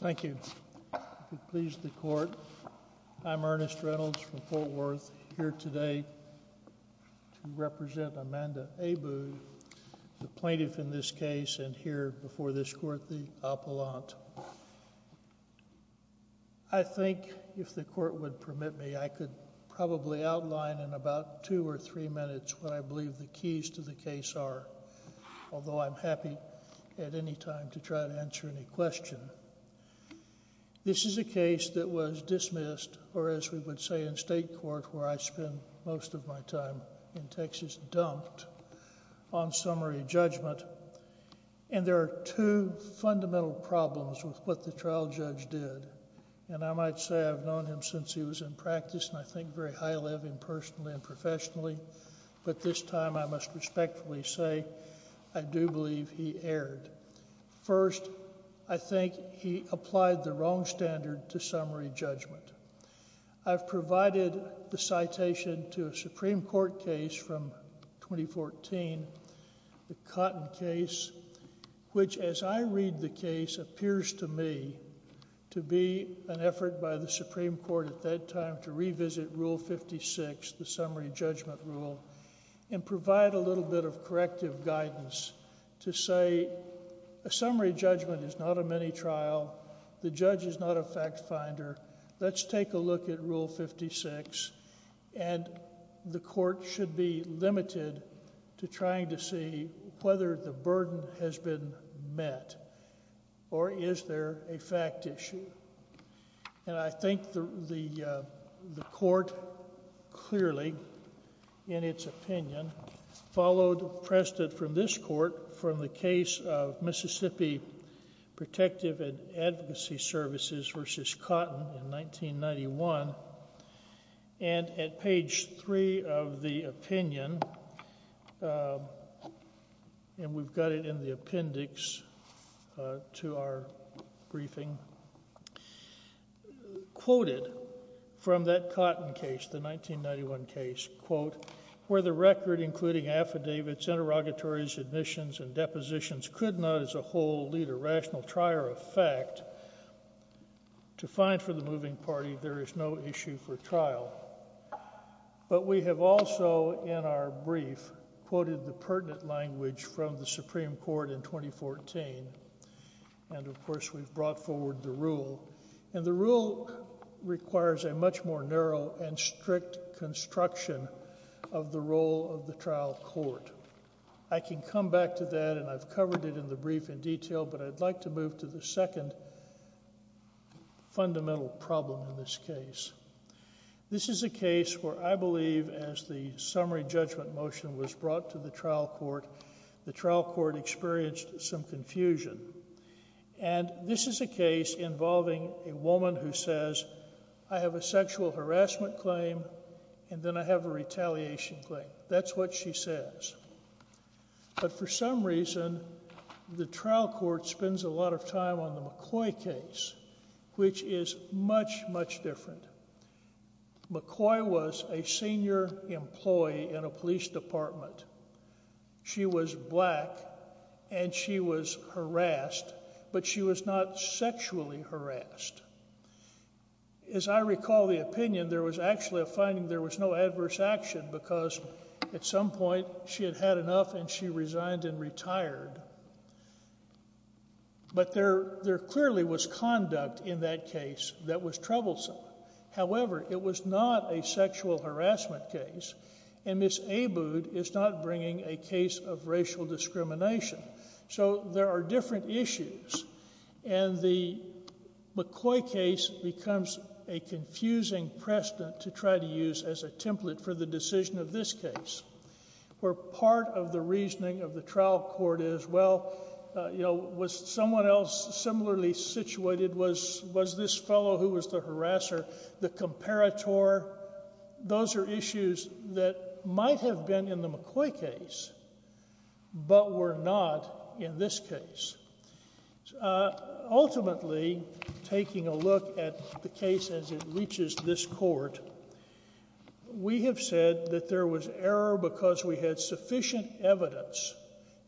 Thank you. Please the court. I'm Ernest Reynolds from Fort Worth here today to represent Amanda Abbood, the plaintiff in this case, and here before this court the appellant. I think if the court would permit me I could probably outline in about two or three minutes what I believe the keys to the case are, although I'm happy at any time to try to answer any question. This is a case that was dismissed, or as we would say in state court where I spend most of my time in Texas, dumped on summary judgment, and there are two fundamental problems with what the trial judge did, and I might say I've known him since he was in practice and I think very highly of him personally and professionally, but this time I must respectfully say I do believe he erred. First, I think he applied the wrong standard to summary judgment. I've provided the citation to a Supreme Court case from 2014, the Cotton case, which as I read the case appears to me to be an effort by the Supreme Court at that time to revisit Rule 56, the summary judgment rule, and provide a little bit of corrective guidance to say a summary judgment is not a mini trial, the judge is not a fact finder, let's take a look at Rule 56, and the court should be limited to trying to see whether the burden has been met or is there a fact issue, and I think the court clearly in its opinion followed precedent from this court from the case of Mississippi Protective and Advocacy Services v. Cotton in 1991, and at page three of the opinion, and we've got it in the appendix to our briefing, quoted from that Cotton case, the 1991 case, quote, where the record including affidavits, interrogatories, admissions, and depositions could not as a whole lead a rational trier of fact to find for the moving party there is no issue for trial, but we have also in our brief quoted the pertinent language from the Supreme Court in 2014, and of course we've brought forward the rule, and the rule requires a much more narrow and strict construction of the role of the trial court. I can come back to that, and I've covered it in the brief in detail, but I'd like to move to the second fundamental problem in this case. This is a case where I believe as the summary judgment motion was brought to the trial court, the trial court experienced some confusion, and this is a case involving a woman who says, I have a sexual harassment claim, and then I have a retaliation claim. That's what she says, but for some reason, the trial court spends a lot of time on the McCoy case, which is much, much different. McCoy was a senior employee in a police department. She was black, and she was harassed, but she was not sexually harassed. As I recall the opinion, there was actually a finding there was no adverse action because at some point, she had had enough, and she resigned and retired, but there clearly was conduct in that case that was troublesome. However, it was not a sexual harassment case, and Ms. Abood is not bringing a case of racial discrimination, so there are different issues, and the McCoy case becomes a confusing precedent to try to use as a template for the decision of this case, where part of the reasoning of the trial court is, well, was someone else similarly situated? Was this fellow who was the harasser the comparator? Those are issues that might have been in the McCoy case, but were not in this case. Ultimately, taking a look at the case as it reaches this court, we have said that there was error because we had sufficient evidence,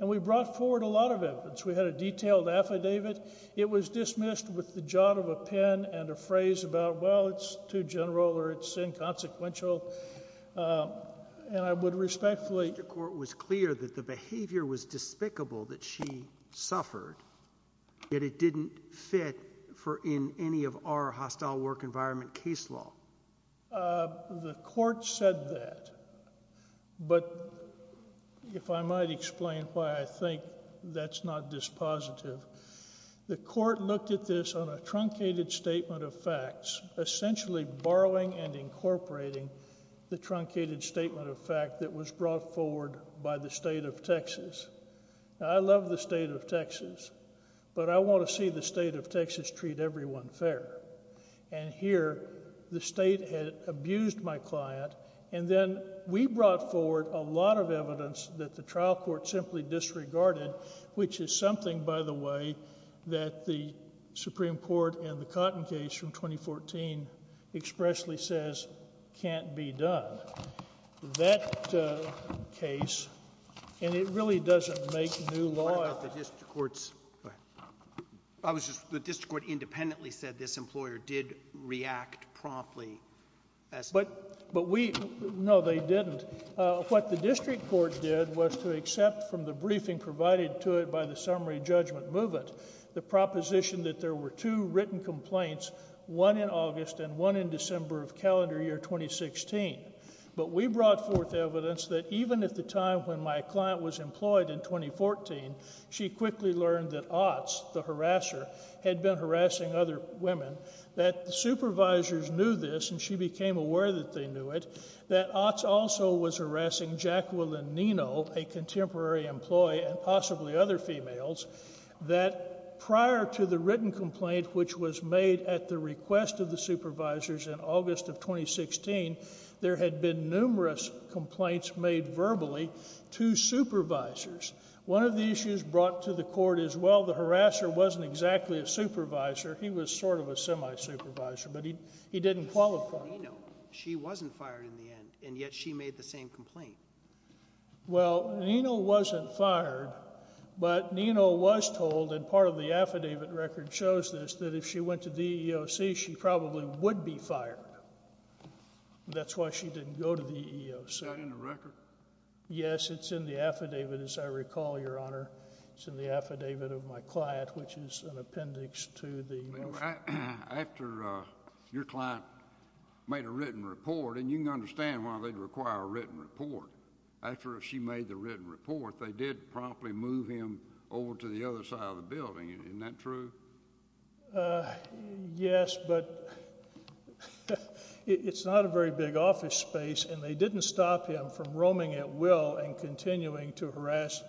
and we brought forward a lot of evidence. We had a detailed affidavit. It was dismissed with the jot of a pen and a phrase about, well, it's too general, or it's inconsequential, and I would respectfully... The court was clear that the behavior was despicable that she suffered, yet it didn't fit in any of our hostile work environment case law. The court said that, but if I might explain why I think that's not dispositive, the court looked at this on a truncated statement of facts, essentially borrowing and incorporating the truncated statement of fact that was brought forward by the state of Texas. I love the state of Texas, but I want to see the state of Texas treat everyone fair, and here, the state had abused my client, and then we brought forward a lot of evidence that the trial court simply disregarded, which is something, by the way, that the Supreme Court in the Cotton case from 2014 expressly says can't be done. That case, and it really doesn't make new law... The court independently said this employer did react promptly as... But we... No, they didn't. What the district court did was to accept from the briefing provided to it by the summary judgment movement the proposition that there were two written complaints, one in August and one in December of calendar year 2016, but we brought forth evidence that even at the time when my client was employed in other women, that supervisors knew this, and she became aware that they knew it, that Otts also was harassing Jacqueline Nino, a contemporary employee, and possibly other females, that prior to the written complaint, which was made at the request of the supervisors in August of 2016, there had been numerous complaints made verbally to supervisors. One of the issues brought to the court is, well, the harasser wasn't exactly a harasser. He was sort of a semi-supervisor, but he didn't qualify. She wasn't fired in the end, and yet she made the same complaint. Well, Nino wasn't fired, but Nino was told, and part of the affidavit record shows this, that if she went to the EEOC, she probably would be fired. That's why she didn't go to the EEOC. Is that in the record? Yes, it's in the affidavit, as I recall, Your Honor. It's in the affidavit of my client, which is an appendix to the... After your client made a written report, and you can understand why they'd require a written report, after she made the written report, they did promptly move him over to the other side of the building, isn't that true? Yes, but it's not a very big office space, and they didn't stop him from roaming at will and continuing to harass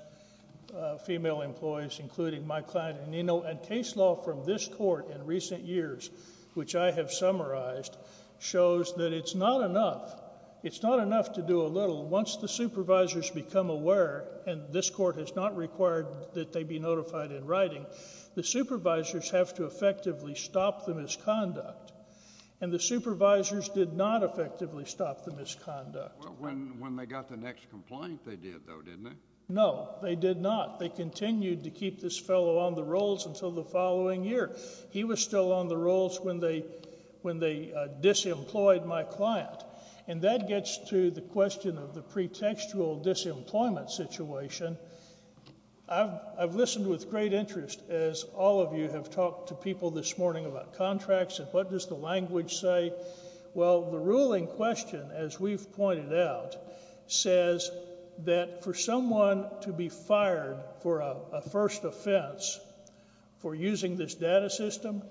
female employees, including my client and Nino. Case law from this court in recent years, which I have summarized, shows that it's not enough. It's not enough to do a little. Once the supervisors become aware, and this court has not required that they be notified in writing, the supervisors have to effectively stop the misconduct, and the supervisors did not effectively stop the misconduct. When they got the next complaint, they did, though, didn't they? No, they did not. They continued to keep this fellow on the rolls until the following year. He was still on the rolls when they disemployed my client. That gets to the question of the pretextual disemployment situation. I've listened with great interest, as all of you have talked to people this morning about contracts and what does the language say. Well, the ruling question, as we've pointed out, says that for someone to be for a first offense for using this data system,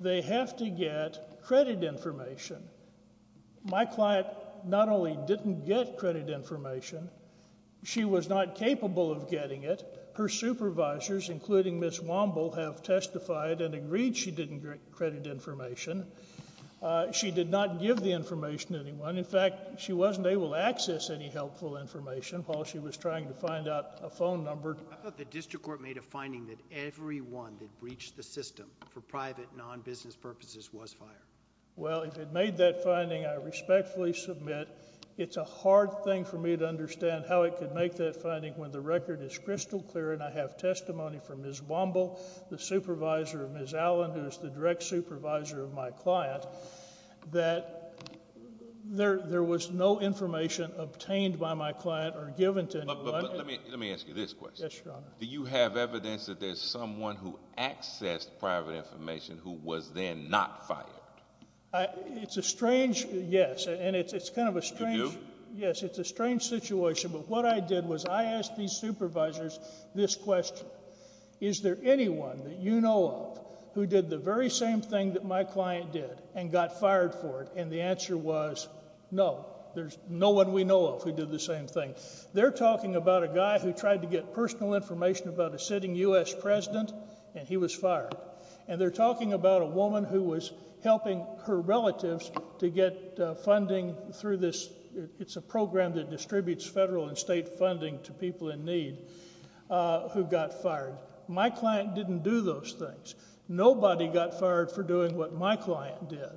they have to get credit information. My client not only didn't get credit information, she was not capable of getting it. Her supervisors, including Ms. Womble, have testified and agreed she didn't get credit information. She did not give the information to anyone. In fact, she wasn't able to access any helpful information while she was trying to find out a phone number. I thought the district court made a finding that everyone that breached the system for private, non-business purposes was fired. Well, if it made that finding, I respectfully submit it's a hard thing for me to understand how it could make that finding when the record is crystal clear and I have testimony from Ms. Womble, the supervisor of Ms. Allen, who is the direct supervisor of my client, that there was no information obtained by my client or given to anyone. But let me ask you this question. Yes, Your Honor. Do you have evidence that there's someone who accessed private information who was then not fired? It's a strange, yes, and it's kind of a strange— Did you? Yes, it's a strange situation, but what I did was I asked these supervisors this question. Is there anyone that you know of who did the very same thing that my client did and got fired for it? The answer was no. There's no one we know of who did the same thing. They're talking about a guy who tried to get personal information about a sitting U.S. president and he was fired. They're talking about a woman who was helping her relatives to get funding through this—it's a program that distributes federal and state funding to people in need who got fired. My client didn't do those things. Nobody got fired for doing what my client did.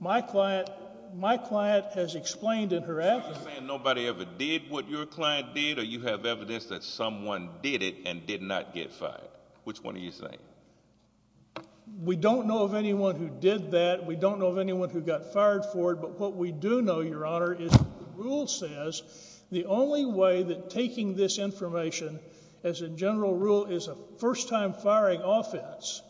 My client—my client has explained in her evidence— Are you saying nobody ever did what your client did or you have evidence that someone did it and did not get fired? Which one are you saying? We don't know of anyone who did that. We don't know of anyone who got fired for it, but what we do know, Your Honor, is the rule says the only way that taking this information, as a general rule, is a first-time firing offense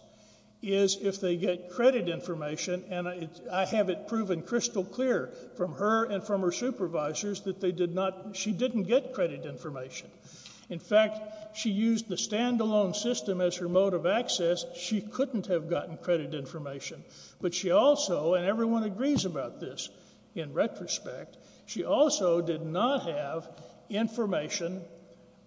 is if they get credit information. And I have it proven crystal clear from her and from her supervisors that they did not—she didn't get credit information. In fact, she used the standalone system as her mode of access. She couldn't have gotten credit information. But she also—and everyone agrees about this in retrospect—she also did not have information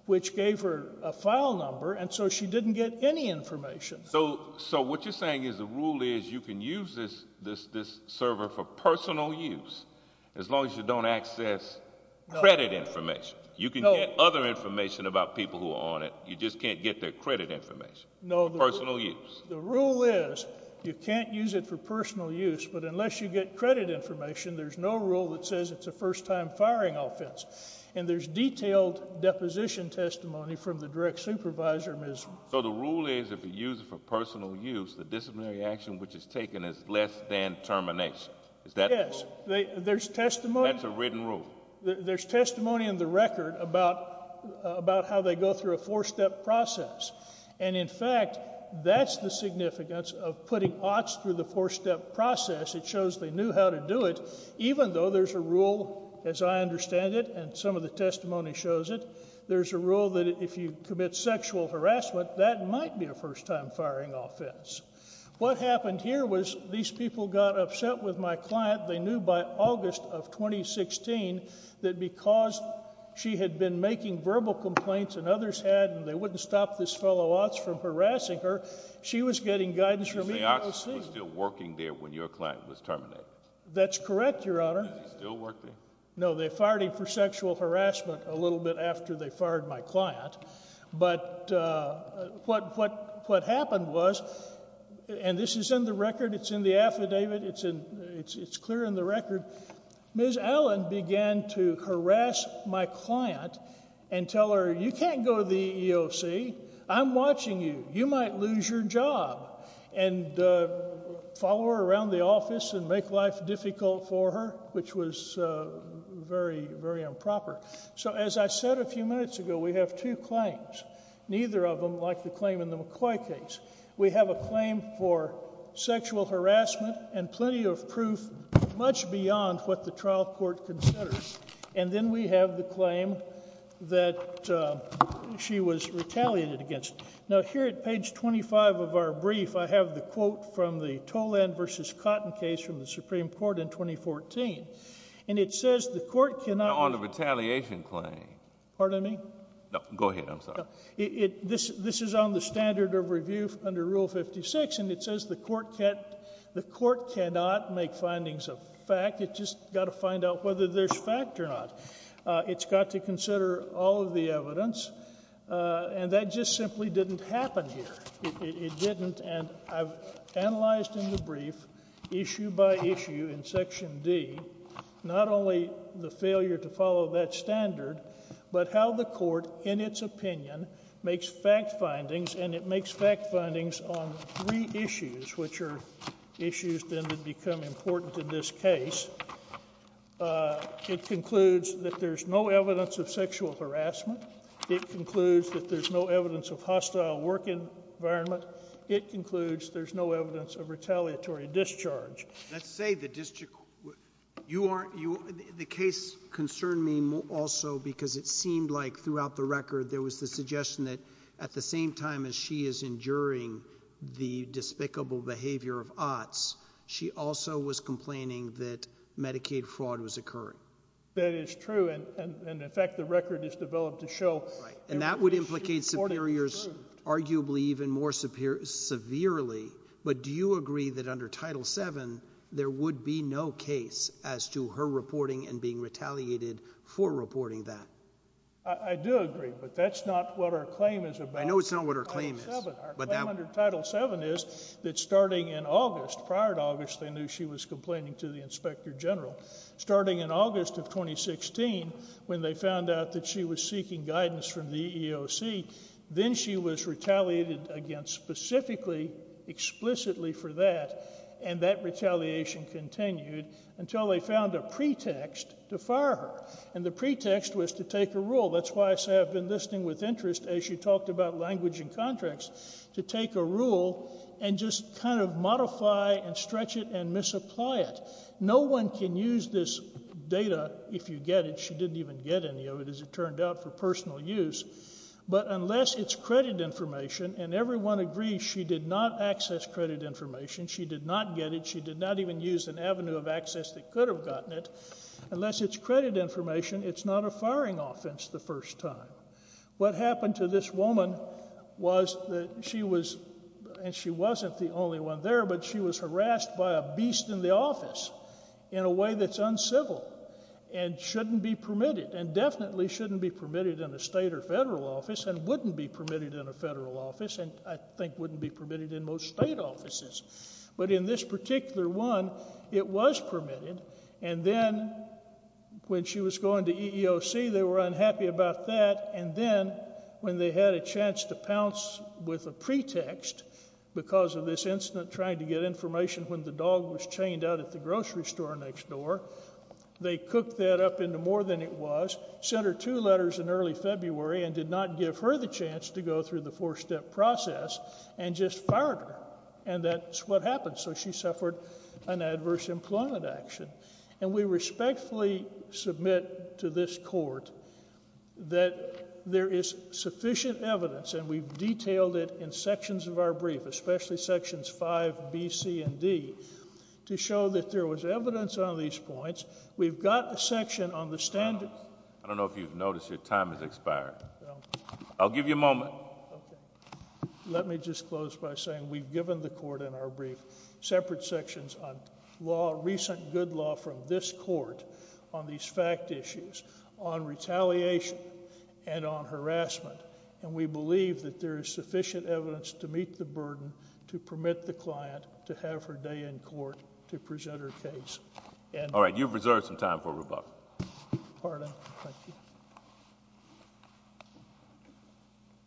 which gave her a file number and so she didn't get any information. So what you're saying is the rule is you can use this server for personal use as long as you don't access credit information. You can get other information about people who are on it. You just can't get their credit information for personal use. The rule is you can't use it for personal use, but unless you get credit information, there's no rule that says it's a first-time firing offense. And there's detailed deposition testimony from the direct supervisor. So the rule is if you use it for personal use, the disciplinary action which is taken is less than termination. Is that— Yes. There's testimony— That's a written rule. There's testimony in the record about how they go through a four-step process. And in fact, that's the significance of putting OTS through the four-step process. It shows they knew how to do it, even though there's a rule, as I understand it, and some of the testimony shows it, there's a rule that if you commit sexual harassment, that might be a first-time firing offense. What happened here was these people got upset with my client. They knew by August of 2016 that because she had been making verbal complaints and others had, and they wouldn't stop this fellow OTS from harassing her, she was getting guidance from EEOC. You're saying OTS was still working there when your client was terminated? That's correct, Your Honor. Did they still work there? No, they fired him for sexual harassment a little bit after they fired my client. But what happened was, and this is in the record, it's in the affidavit, it's clear in the record, Ms. Allen began to harass my client and tell her, you can't go to the EEOC. I'm watching you. You might lose your job, and follow her around the office and make life difficult for her, which was very, very improper. So as I said a few minutes ago, we have two claims, neither of them like the claim in the McCoy case. We have a claim for sexual harassment and plenty of proof much beyond what the trial court considers. And then we have the claim that she was retaliated against. Now, here at page 25 of our brief, I have the quote from the Toland v. Cotton case from the Supreme Court in 2014, and it says, On the retaliation claim. Pardon me? No, go ahead. I'm sorry. It, this, this is on the standard of review under Rule 56, and it says the court can't, the court cannot make findings of fact. It just got to find out whether there's fact or not. It's got to consider all of the evidence. And that just simply didn't happen here. It didn't. And I've analyzed in the brief, issue by issue in Section D, not only the failure to follow that standard, but how the court, in its opinion, makes fact findings, and it makes fact findings on three issues, which are issues then that become important in this case. It concludes that there's no evidence of sexual harassment. It concludes that there's no evidence of hostile work environment. It concludes there's no evidence of retaliatory discharge. Let's say the district, you aren't, you, the case concerned me also because it seemed like throughout the record, there was the suggestion that at the same time as she is enduring the despicable behavior of Otts, she also was complaining that Medicaid fraud was occurring. That is true. And, and, and in fact, the record is developed to show. Right. That would implicate superiors, arguably even more severe, severely, but do you agree that under Title VII, there would be no case as to her reporting and being retaliated for reporting that? I do agree, but that's not what our claim is about. I know it's not what our claim is. Our claim under Title VII is that starting in August, prior to August, they knew she was complaining to the Inspector General. Starting in August of 2016, when they found out that she was seeking guidance from the EEOC, then she was retaliated against specifically, explicitly for that, and that retaliation continued until they found a pretext to fire her. And the pretext was to take a rule. That's why I say I've been listening with interest as you talked about language and contracts, to take a rule and just kind of modify and stretch it and misapply it. No one can use this data if you get it. She didn't even get any of it, as it turned out, for personal use. But unless it's credit information, and everyone agrees she did not access credit information, she did not get it, she did not even use an avenue of access that could have gotten it, unless it's credit information, it's not a firing offense the first time. What happened to this woman was that she was, and she wasn't the only one there, but she was harassed by a beast in the office in a way that's uncivil and shouldn't be permitted and definitely shouldn't be permitted in a state or federal office and wouldn't be permitted in a federal office and I think wouldn't be permitted in most state offices. But in this particular one, it was permitted. And then when she was going to EEOC, they were unhappy about that. And then when they had a chance to pounce with a pretext because of this incident, trying to get information when the dog was chained out at the EEOC, they cooked that up into more than it was, sent her two letters in early February and did not give her the chance to go through the four-step process and just fired her. And that's what happened. So she suffered an adverse employment action. And we respectfully submit to this court that there is sufficient evidence, and we've detailed it in sections of our brief, especially sections five, B, C, and D, to show that there was evidence on these points. We've got a section on the standards. I don't know if you've noticed your time has expired. I'll give you a moment. Let me just close by saying we've given the court in our brief separate sections on law, recent good law from this court on these fact issues, on retaliation and on harassment. And we believe that there is sufficient evidence to meet the burden to permit the client to have her day in court to present her case. All right. You've reserved some time for rebuttal. ROLA DABOWLE. Pardon.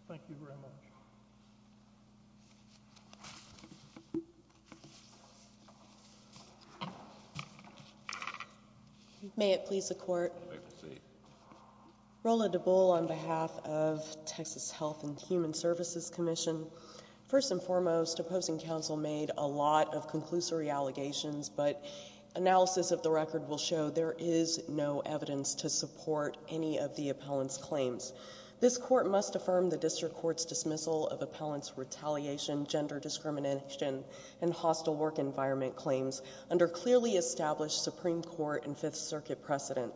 Thank you very much. ZIXTA Q. MARTINEZ. May it please the Court. THE COURT. May it proceed. ZIXTA Q. MARTINEZ. Rola Dabowle on behalf of Texas Health and Human Services Commission. First and foremost, opposing counsel made a lot of conclusory allegations, but analysis of the record will show there is no evidence to support any of the appellant's claims. This court must affirm the district court's dismissal of appellant's retaliation, gender discrimination, and hostile work environment claims under clearly established Supreme Court and Fifth Circuit precedent.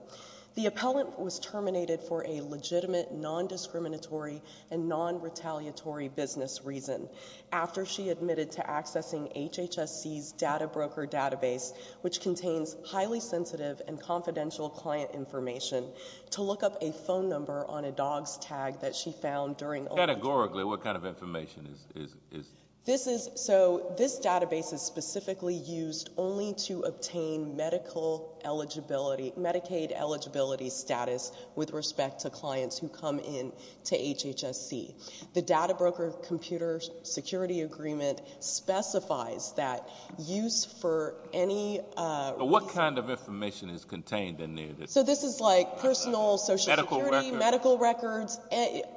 The appellant was terminated for a legitimate non-discriminatory and non-retaliatory business reason after she admitted to accessing HHSC's Data Broker database, which contains highly sensitive and confidential client information, to look up a phone number on a dog's tag that she found during oral— THE COURT. Categorically, what kind of information is— ZIXTA Q. MARTINEZ. This is—so this database is specifically used only to obtain medical eligibility—Medicaid eligibility status with respect to clients who come in to HHSC. The Data Broker Computer Security Agreement specifies that use for any— THE COURT. What kind of information is contained in there? ZIXTA Q. MARTINEZ. So this is like personal social security— THE COURT. Medical records. ZIXTA Q. MARTINEZ.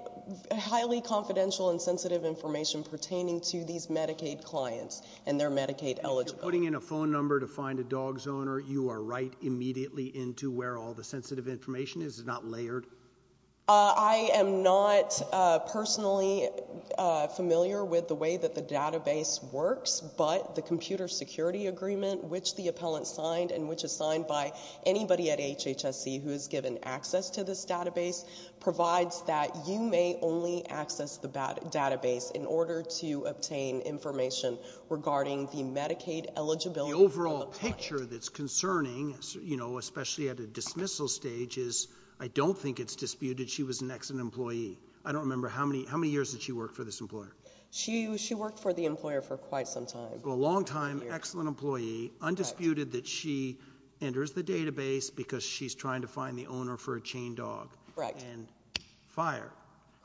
Highly confidential and sensitive information pertaining to these Medicaid clients and their Medicaid eligibility. THE COURT. If you're putting in a phone number to find a dog's owner, you are right immediately into where all the sensitive information is. Is it not layered? ZIXTA Q. MARTINEZ. I am not personally familiar with the way that the database works, but the Computer Security Agreement, which the appellant signed and which is signed by anybody at HHSC who is given access to this database, provides that you may only access the database in order to obtain information regarding the Medicaid eligibility— THE COURT. The overall picture that's concerning, you know, especially at a dismissal stage, is I don't think it's disputed she was an excellent employee. I don't remember—how many years did she work for this employer? ZIXTA Q. MARTINEZ. She worked for the employer for quite some time. THE COURT. A long-time excellent employee, undisputed that she enters the database because she's trying to find the owner for a chain dog. ZIXTA Q. MARTINEZ. Correct. THE COURT. And fire. ZIXTA Q. MARTINEZ.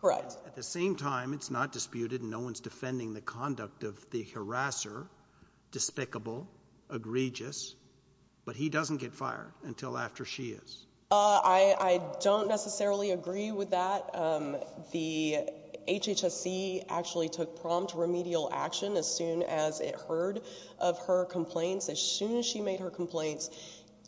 Correct. THE COURT. At the same time, it's not disputed and no one's defending the conduct of the harasser—despicable, egregious—but he doesn't get fired until after she is. ZIXTA Q. MARTINEZ. I don't necessarily agree with that. The HHSC actually took prompt remedial action as soon as it heard of her complaints. As soon as she made her complaints,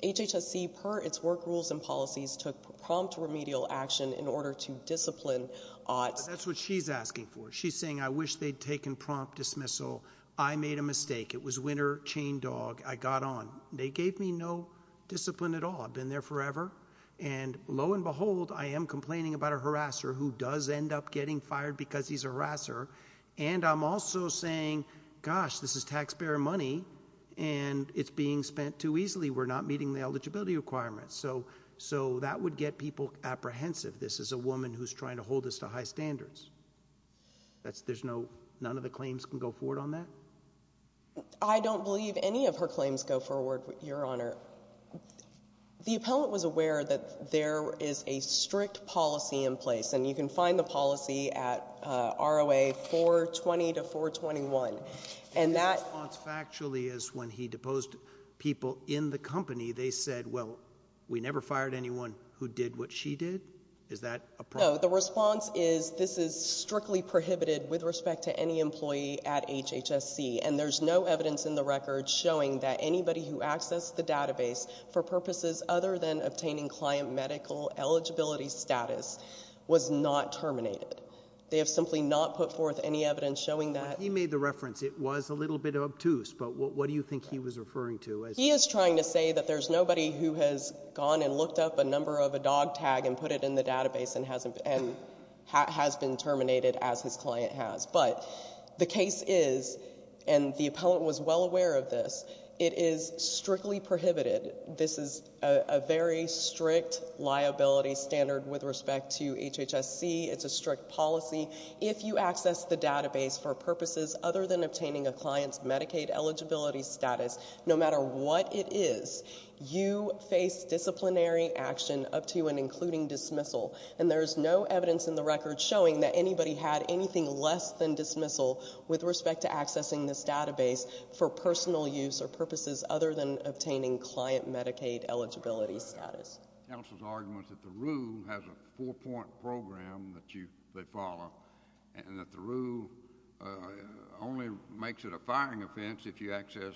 HHSC, per its work rules and policies, took prompt remedial action in order to discipline Ott. THE COURT. That's what she's asking for. She's saying, I wish they'd taken prompt dismissal. I made a mistake. It was winner, chain dog. I got on. They gave me no discipline at all. Been there forever. And lo and behold, I am complaining about a harasser who does end up getting fired because he's a harasser. And I'm also saying, gosh, this is taxpayer money and it's being spent too easily. We're not meeting the eligibility requirements. So that would get people apprehensive. This is a woman who's trying to hold us to high standards. There's no—none of the claims can go forward on that? ZIXTA Q. MARTINEZ. I don't believe any of her claims go forward, Your Honor. The appellant was aware that there is a strict policy in place. And you can find the policy at ROA 420 to 421, and that— THE COURT. And the response factually is when he deposed people in the company, they said, well, we never fired anyone who did what she did? Is that a problem? ZIXTA Q. MARTINEZ. No, the response is this is strictly prohibited with respect to any employee at HHSC, and there's no evidence in the record showing that anybody who accessed the database for purposes other than obtaining client medical eligibility status was not terminated. They have simply not put forth any evidence showing that— THE COURT. He made the reference it was a little bit obtuse, but what do you think he was referring to? ZIXTA Q. MARTINEZ. He is trying to say that there's nobody who has gone and looked up a number of a dog tag and put it in the database and hasn't—and has been terminated as his client has. But the case is, and the appellant was well aware of this, it is strictly prohibited. This is a very strict liability standard with respect to HHSC. It's a strict policy. If you access the database for purposes other than obtaining a client's Medicaid eligibility status, no matter what it is, you face disciplinary action up to and including dismissal, and there's no evidence in the record showing that anybody had anything less than dismissal with respect to accessing this database for personal use or purposes other than obtaining client Medicaid eligibility status. THE COURT. Counsel's argument is that the rule has a four-point program that you—they follow, and that the rule only makes it a firing offense if you access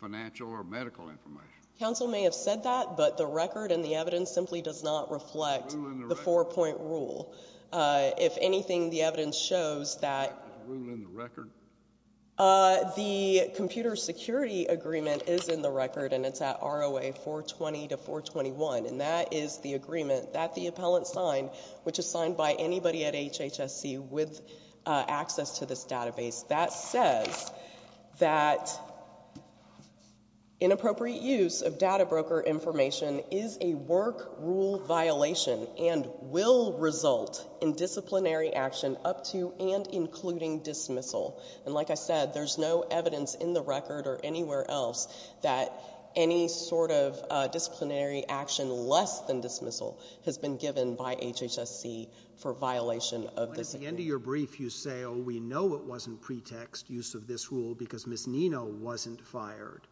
financial or medical information. ZIXTA Q. MARTINEZ. Counsel may have said that, but the record and the evidence simply does not reflect— THE COURT. ZIXTA Q. MARTINEZ. —the four-point rule. If anything, the evidence shows that— THE COURT. Is the rule in the record? ZIXTA Q. MARTINEZ. The computer security agreement is in the record, and it's at ROA 420 to 421, and that is the agreement that the appellant signed, which is signed by anybody at HHSC with access to this database, that says that inappropriate use of data broker information is a work rule violation and will result in disciplinary action up to and including dismissal. And like I said, there's no evidence in the record or anywhere else that any sort of disciplinary action less than dismissal has been given by HHSC for violation of this— THE COURT. At the end of your brief, you say, oh, we know it wasn't pretext, use of this rule, ZIXTA Q. MARTINEZ. That— THE COURT.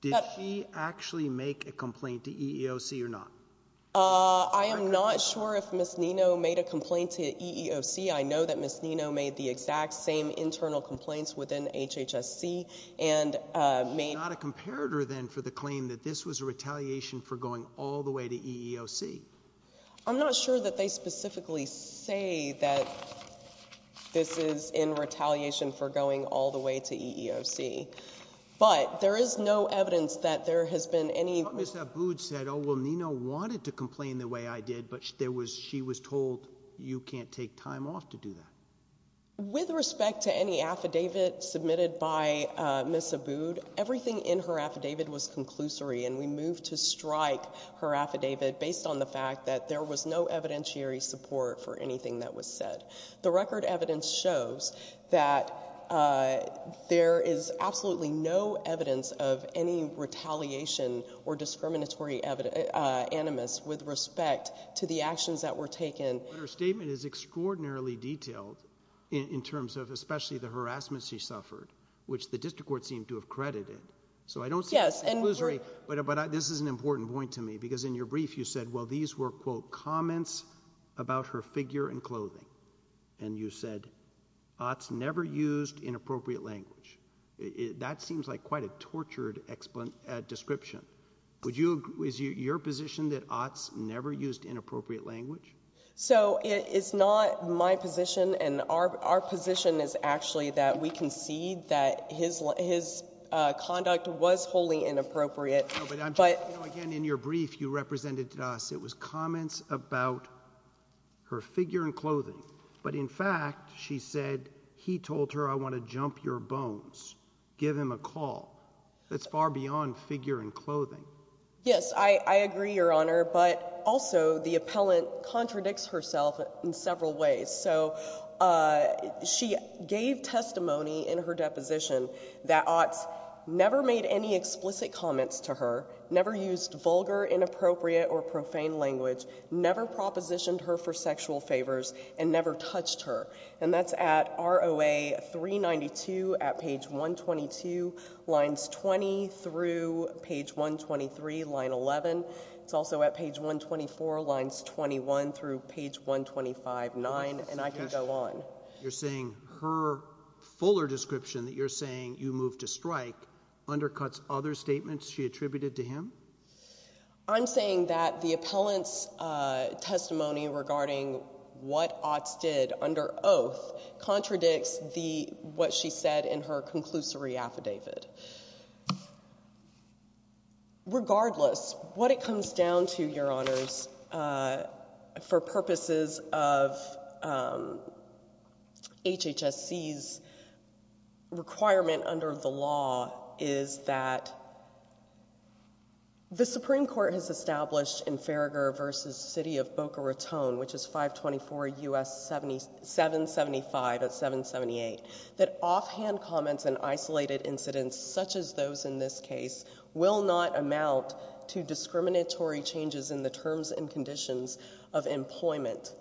Did she actually make a complaint to EEOC or not? ZIXTA Q. MARTINEZ. I am not sure if Ms. Nino made a complaint to EEOC. I know that Ms. Nino made the exact same internal complaints within HHSC and made— THE COURT. Not a comparator, then, for the claim that this was a retaliation for going all the way to EEOC. ZIXTA Q. MARTINEZ. I'm not sure that they specifically say that this is in retaliation for going all the way to EEOC, but there is no evidence that there has been any— THE COURT. Ms. Abood said, oh, well, Nino wanted to complain the way I did, but there was—she was told you can't take time off to do that. ZIXTA Q. MARTINEZ. With respect to any affidavit submitted by Ms. Abood, everything in her affidavit was conclusory, and we moved to strike her affidavit based on the fact that there was no evidentiary support for anything that was said. The record evidence shows that there is absolutely no evidence of any retaliation or discriminatory animus with respect to the actions that were taken. THE COURT. But her statement is extraordinarily detailed in terms of especially the harassment she suffered, which the district court seemed to have credited. ZIXTA Q. MARTINEZ. Yes, and— THE COURT. So I don't see it as conclusory, but this is an important point to me, because in your brief, you said, well, these were, quote, comments about her figure and clothing. And you said, Otts never used inappropriate language. That seems like quite a tortured description. Would you—is your position that Otts never used inappropriate language? ZIXTA Q. MARTINEZ. So it's not my position, and our position is actually that we concede that his conduct was wholly inappropriate. THE COURT. But I'm just—again, in your brief, you represented to us, it was comments about her figure and clothing. But in fact, she said, he told her, I want to jump your bones, give him a call. That's far beyond figure and clothing. ZIXTA Q. MARTINEZ. Yes, I agree, Your Honor. But also, the appellant contradicts herself in several ways. So she gave testimony in her deposition that Otts never made any explicit comments to her, never used vulgar, inappropriate, or profane language, never propositioned her for sexual favors, and never touched her. And that's at ROA 392 at page 122, lines 20 through page 123, line 11. It's also at page 124, lines 21 through page 1259. And I can go on. THE COURT. You're saying her fuller description that you're saying you moved to strike undercuts other statements she attributed to him? ZIXTA Q. MARTINEZ. I'm saying that the appellant's testimony regarding what Otts did under oath contradicts what she said in her conclusory affidavit. Regardless, what it comes down to, Your Honors, for purposes of is that the Supreme Court has established in Farragher v. City of Boca Raton, which is 524 U.S. 775 at 778, that offhand comments and isolated incidents such as those in this case will not amount to discriminatory changes in the terms and conditions of employment.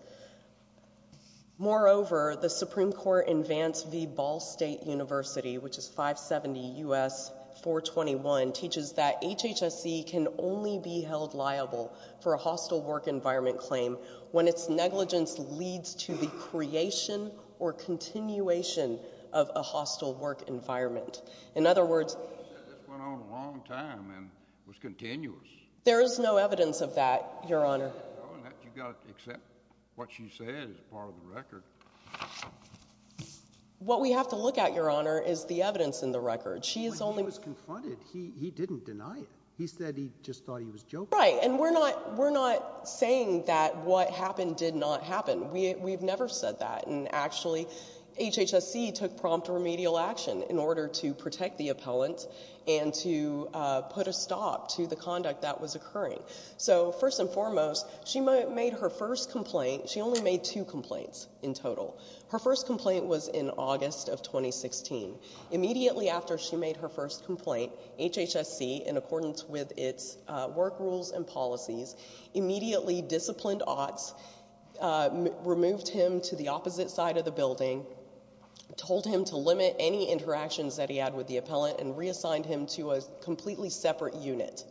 Moreover, the Supreme Court in Vance v. Ball State University, which is 570 U.S. 421, teaches that HHSE can only be held liable for a hostile work environment claim when its negligence leads to the creation or continuation of a hostile work environment. In other words— THE COURT. You said this went on a long time and was continuous. ZIXTA Q. MARTINEZ. There is no evidence of that, Your Honor. Oh, and that you got to accept? ZIXTA Q. MARTINEZ. What you said is part of the record. ZIXTA Q. MARTINEZ. What we have to look at, Your Honor, is the evidence in the record. She is only— THE COURT. When he was confronted, he didn't deny it. He said he just thought he was joking. ZIXTA Q. MARTINEZ. Right. And we're not saying that what happened did not happen. We've never said that. And actually, HHSE took prompt remedial action in order to protect the appellant and to put a stop to the conduct that was occurring. So first and foremost, she made her first complaint—she only made two complaints in total. Her first complaint was in August of 2016. Immediately after she made her first complaint, HHSC, in accordance with its work rules and policies, immediately disciplined Otts, removed him to the opposite side of the building, told him to limit any interactions that he had with the appellant, and reassigned him to a completely separate unit.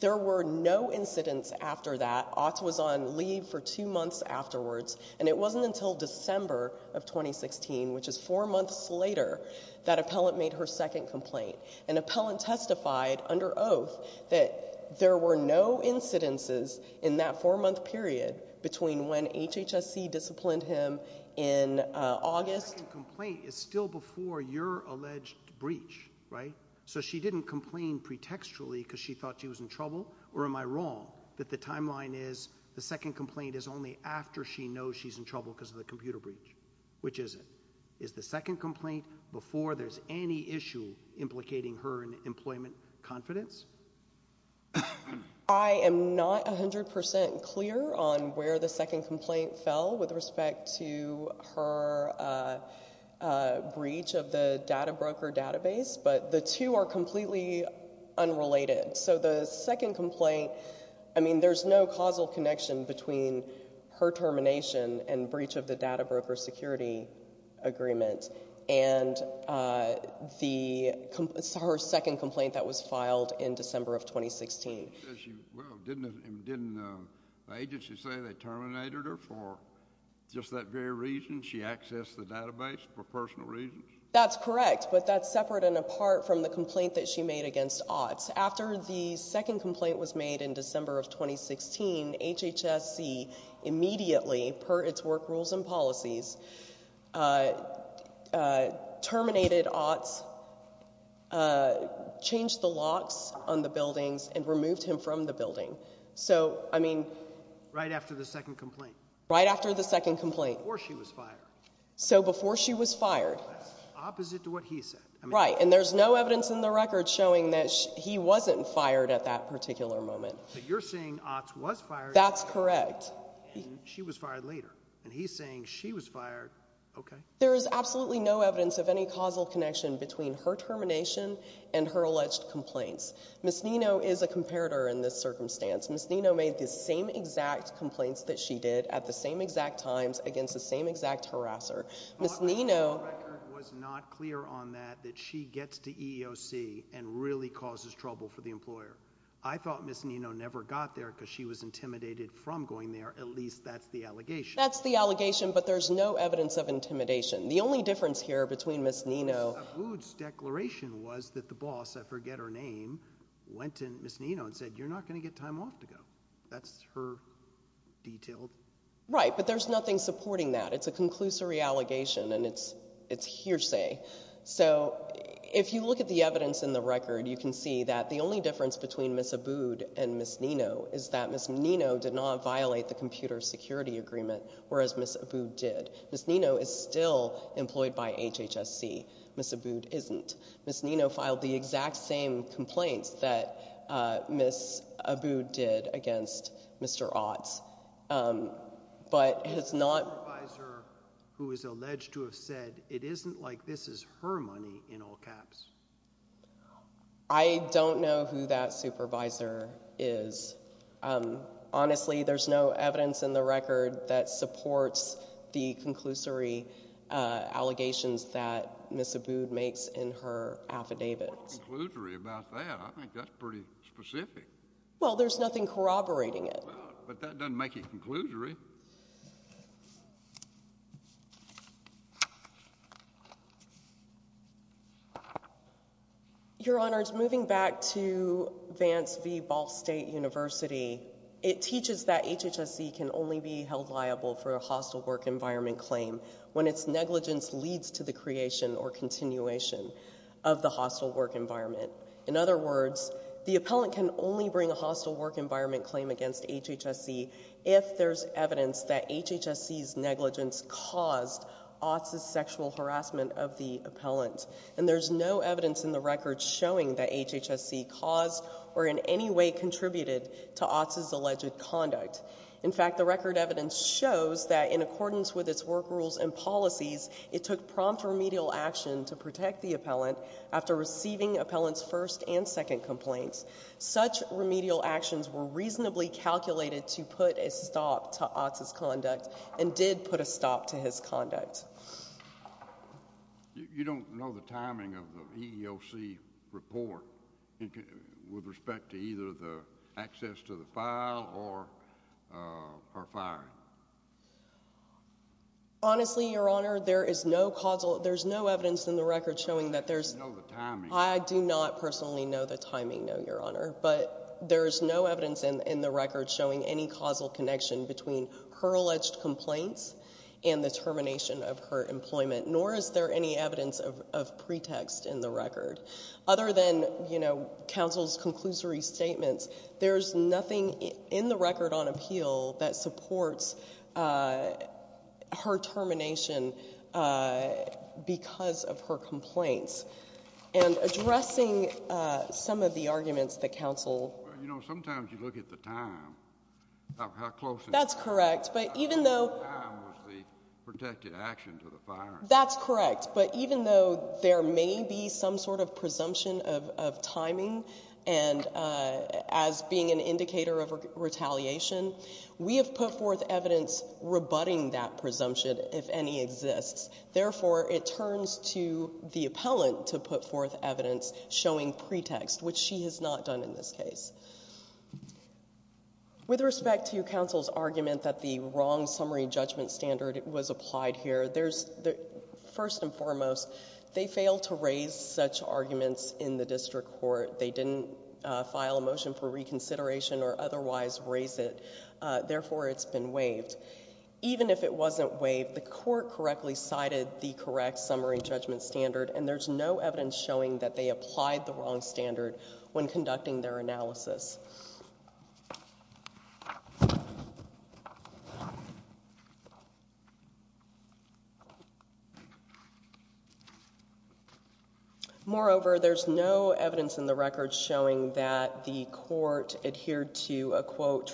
There were no incidents after that. Otts was on leave for two months afterwards. And it wasn't until December of 2016, which is four months later, that appellant made her second complaint. An appellant testified under oath that there were no incidences in that four-month period between when HHSC disciplined him in August— THE COURT. The second complaint is still before your alleged breach, right? So she didn't complain pretextually because she thought she was in trouble, or am I wrong that the timeline is the second complaint is only after she knows she's in trouble because of the computer breach? Which is it? Is the second complaint before there's any issue implicating her in employment confidence? I am not 100 percent clear on where the second complaint fell with respect to her breach of the data broker database, but the two are completely unrelated. So the second complaint—I mean, there's no causal connection between her termination and breach of the data broker security agreement and her second complaint that was filed in December of 2016. Well, didn't the agency say they terminated her for just that very reason? She accessed the database for personal reasons? That's correct, but that's separate and apart from the complaint that she made against Otts. After the second complaint was made in December of 2016, HHSC immediately, per its work rules and policies, terminated Otts, changed the locks on the buildings, and removed him from the building. So, I mean— Right after the second complaint? Right after the second complaint. Before she was fired? So before she was fired. That's opposite to what he said. Right, and there's no evidence in the record showing that he wasn't fired at that particular moment. But you're saying Otts was fired— That's correct. She was fired later, and he's saying she was fired. Okay. There is absolutely no evidence of any causal connection between her termination and her alleged complaints. Ms. Nino is a comparator in this circumstance. Ms. Nino made the same exact complaints that she did, at the same exact times, against the same exact harasser. Ms. Nino— The record was not clear on that, that she gets to EEOC and really causes trouble for the employer. I thought Ms. Nino never got there because she was intimidated from going there. At least, that's the allegation. That's the allegation, but there's no evidence of intimidation. The only difference here between Ms. Nino— Mr. Sabud's declaration was that the boss—I forget her name—went to Ms. Nino and said, you're not going to get time off to go. That's her detailed— Right, but there's nothing supporting that. It's a conclusory allegation, and it's hearsay. So, if you look at the evidence in the record, you can see that the only difference between Ms. Sabud and Ms. Nino is that Ms. Nino did not violate the computer security agreement, whereas Ms. Sabud did. Ms. Nino is still employed by HHSC. Ms. Sabud isn't. Ms. Nino filed the exact same complaints that Ms. Sabud did against Mr. Ott, but has not— The supervisor who is alleged to have said, it isn't like this is her money in all caps. I don't know who that supervisor is. Honestly, there's no evidence in the record that supports the conclusory allegations that Ms. Sabud makes in her affidavits. Well, what's conclusory about that? I think that's pretty specific. Well, there's nothing corroborating it. But that doesn't make it conclusory. Your Honors, moving back to Vance v. Ball State University, it teaches that HHSC can only be held liable for a hostile work environment claim when its negligence leads to the creation or continuation of the hostile work environment. In other words, the appellant can only bring a hostile work environment claim against HHSC if there's evidence that HHSC's negligence caused Ott's sexual harassment of the appellant. And there's no evidence in the record showing that HHSC caused or in any way contributed to Ott's alleged conduct. In fact, the record evidence shows that in accordance with its work rules and policies, it took prompt remedial action to protect the appellant after receiving appellant's first and second complaints. Such remedial actions were reasonably calculated to put a stop to Ott's conduct and did put a stop to his conduct. You don't know the timing of the EEOC report with respect to either the access to the file or firing? Honestly, Your Honor, there is no causal, there's no evidence in the record showing that there's... You know the timing. I do not personally know the timing, no, Your Honor. But there is no evidence in the record showing any causal connection between her alleged complaints and the termination of her employment, nor is there any evidence of pretext in the record. Other than, you know, counsel's conclusory statements, there's nothing in the record on appeal that supports her termination because of her complaints. And addressing some of the arguments that counsel... You know, sometimes you look at the time of how close... That's correct, but even though... How close the time was the protected action to the firing. That's correct. But even though there may be some sort of presumption of timing and as being an indicator of retaliation, we have put forth evidence rebutting that presumption, if any exists. Therefore, it turns to the appellant to put forth evidence showing pretext, which she has not done in this case. With respect to counsel's argument that the wrong summary judgment standard was applied here, there's... First and foremost, they failed to raise such arguments in the district court. They didn't file a motion for reconsideration or otherwise raise it. Therefore, it's been waived. Even if it wasn't waived, the court correctly cited the correct summary judgment standard, and there's no evidence showing that they applied the wrong standard when conducting their analysis. Moreover, there's no evidence in the record showing that the court adhered to a, quote, the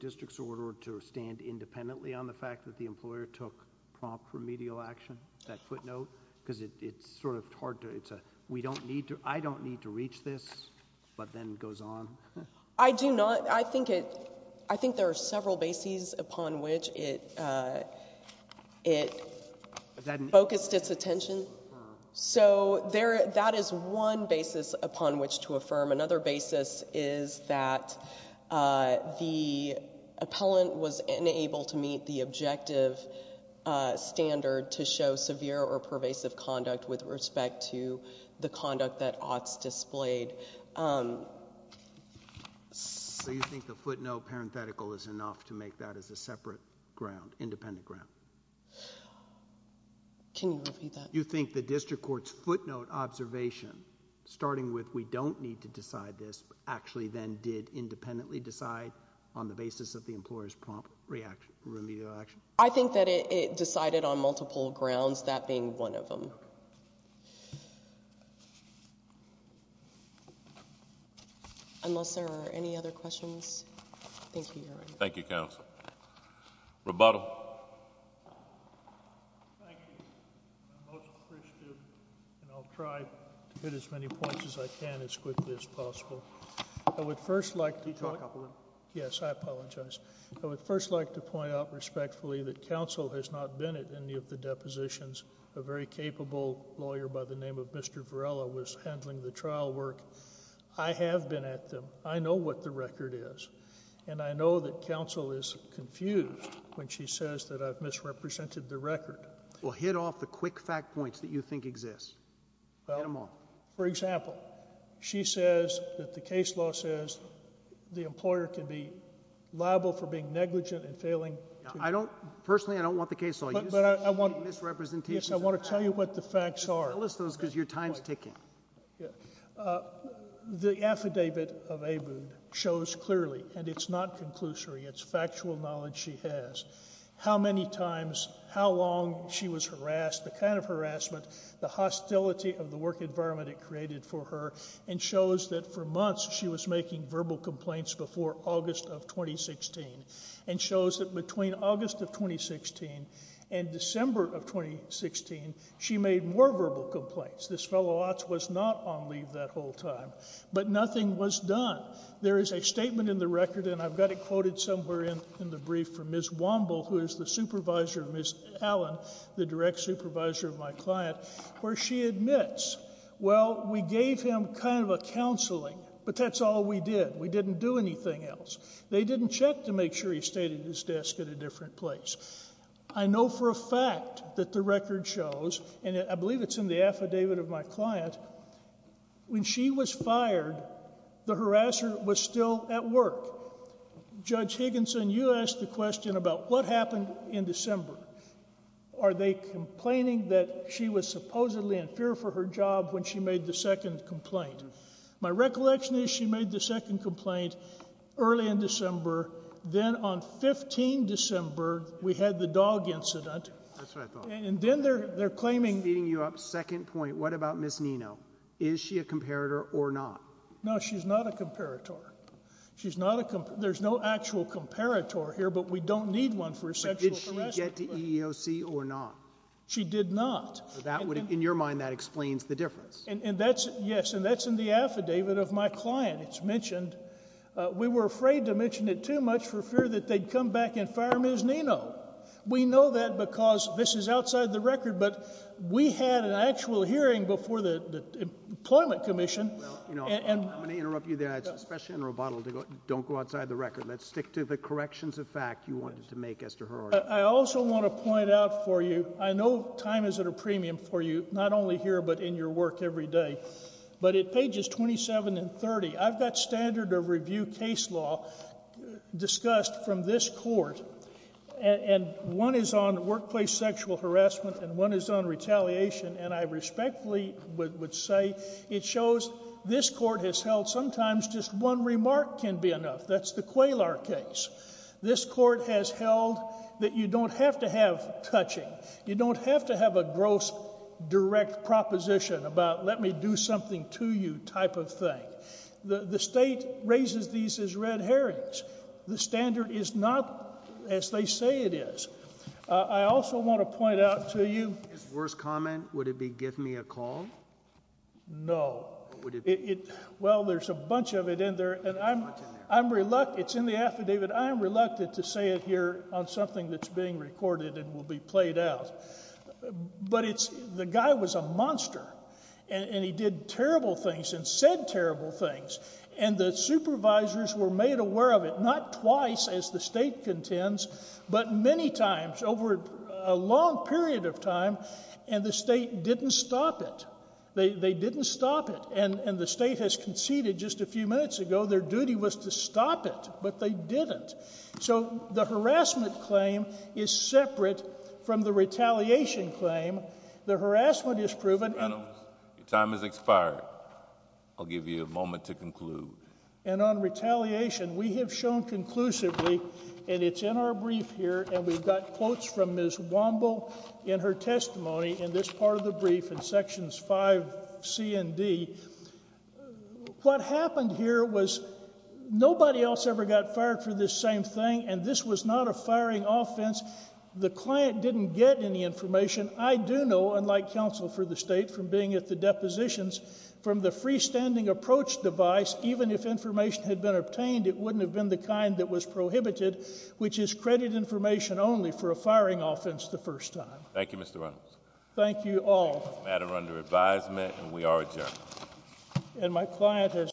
district's order to stand independently on the fact that the employer took prompt remedial action, that footnote, because it's sort of hard to, it's a, we don't need to, I don't need to reach this, but then it goes on. I do not. I think it, I think there are several bases upon which it, uh, it focused its attention. So there, that is one basis upon which to affirm. Another basis is that, uh, the appellant was unable to meet the objective, uh, standard to show severe or pervasive conduct with respect to the conduct that oughts displayed. Um... So you think the footnote parenthetical is enough to make that as a separate ground, independent ground? Can you repeat that? You think the district court's footnote observation, starting with we don't need to decide this, actually then did independently decide on the basis of the employer's prompt reaction, remedial action? I think that it, it decided on multiple grounds, that being one of them. Unless there are any other questions? Thank you, Your Honor. Thank you, counsel. Rebuttal. Thank you. I'm most appreciative, and I'll try to hit as many points as I can as quickly as possible. I would first like to... Can you talk up a little? Yes, I apologize. I would first like to point out respectfully that counsel has not been at any of the depositions. A very capable lawyer by the name of Mr. Varela was handling the trial work. I have been at them. I know what the record is. And I know that counsel is confused when she says that I've misrepresented the record. Well, hit off the quick fact points that you think exist. Hit them off. For example, she says that the case law says the employer can be liable for being negligent and failing. I don't, personally, I don't want the case law. But I want... Misrepresentation. I want to tell you what the facts are. Tell us those because your time's ticking. The affidavit of Abood shows clearly, and it's not conclusory, it's factual knowledge she has, how many times, how long she was harassed, the kind of harassment, the hostility of the work environment it created for her, and shows that for months she was making verbal complaints before August of 2016. And shows that between August of 2016 and December of 2016, she made more verbal complaints. This fellow was not on leave that whole time. But nothing was done. There is a statement in the record, and I've got it quoted somewhere in the brief from Ms. Womble, who is the supervisor of Ms. Allen, the direct supervisor of my client, where she admits, well, we gave him kind of a counseling, but that's all we did. We didn't do anything else. They didn't check to make sure he stayed at his desk at a different place. I know for a fact that the record shows, and I believe it's in the affidavit of my client, when she was fired, the harasser was still at work. Judge Higginson, you asked the question about what happened in December. Are they complaining that she was supposedly in fear for her job when she made the second complaint? My recollection is she made the second complaint early in December. Then on 15 December, we had the dog incident. That's what I thought. And then they're claiming... Speeding you up, second point. What about Ms. Nino? Is she a comparator or not? No, she's not a comparator. She's not a comparator. There's no actual comparator here, but we don't need one for sexual harassment. Did she get to EEOC or not? She did not. In your mind, that explains the difference. Yes, and that's in the affidavit of my client. It's mentioned. We were afraid to mention it too much for fear that they'd come back and fire Ms. Nino. We know that because this is outside the record, but we had an actual hearing before the employment commission. I'm going to interrupt you there. Especially in Roboto, don't go outside the record. Let's stick to the corrections of fact you wanted to make as to her order. I also want to point out for you, I know time is at a premium for you, not only here, but in your work every day. But at pages 27 and 30, I've got standard of review case law discussed from this court. And one is on workplace sexual harassment, and one is on retaliation. And I respectfully would say, it shows this court has held sometimes just one remark can be enough. That's the Qualar case. This court has held that you don't have to have touching. You don't have to have a gross direct proposition about, let me do something to you type of thing. The state raises these as red herrings. The standard is not as they say it is. I also want to point out to you. His worst comment, would it be give me a call? No. Well, there's a bunch of it in there. And I'm, I'm reluctant. It's in the affidavit. I'm reluctant to say it here on something that's being recorded and will be played out. But it's the guy was a monster. And he did terrible things and said terrible things. And the supervisors were made aware of it, not twice as the state contends, but many times over a long period of time. And the state didn't stop it. They didn't stop it. And the state has conceded just a few minutes ago. Their duty was to stop it, but they didn't. So the harassment claim is separate from the retaliation claim. The harassment is proven. Your time has expired. I'll give you a moment to conclude. And on retaliation, we have shown conclusively, and it's in our brief here. And we've got quotes from Ms. Womble in her testimony in this part of the brief in sections 5C and D. What happened here was nobody else ever got fired for this same thing. And this was not a firing offense. The client didn't get any information. I do know, unlike counsel for the state from being at the depositions, from the freestanding approach device, even if information had been obtained, it wouldn't have been the kind that was prohibited, which is credit information only for a firing offense the first time. Thank you, Mr. Reynolds. Thank you all. Matter under advisement, and we are adjourned. And my client has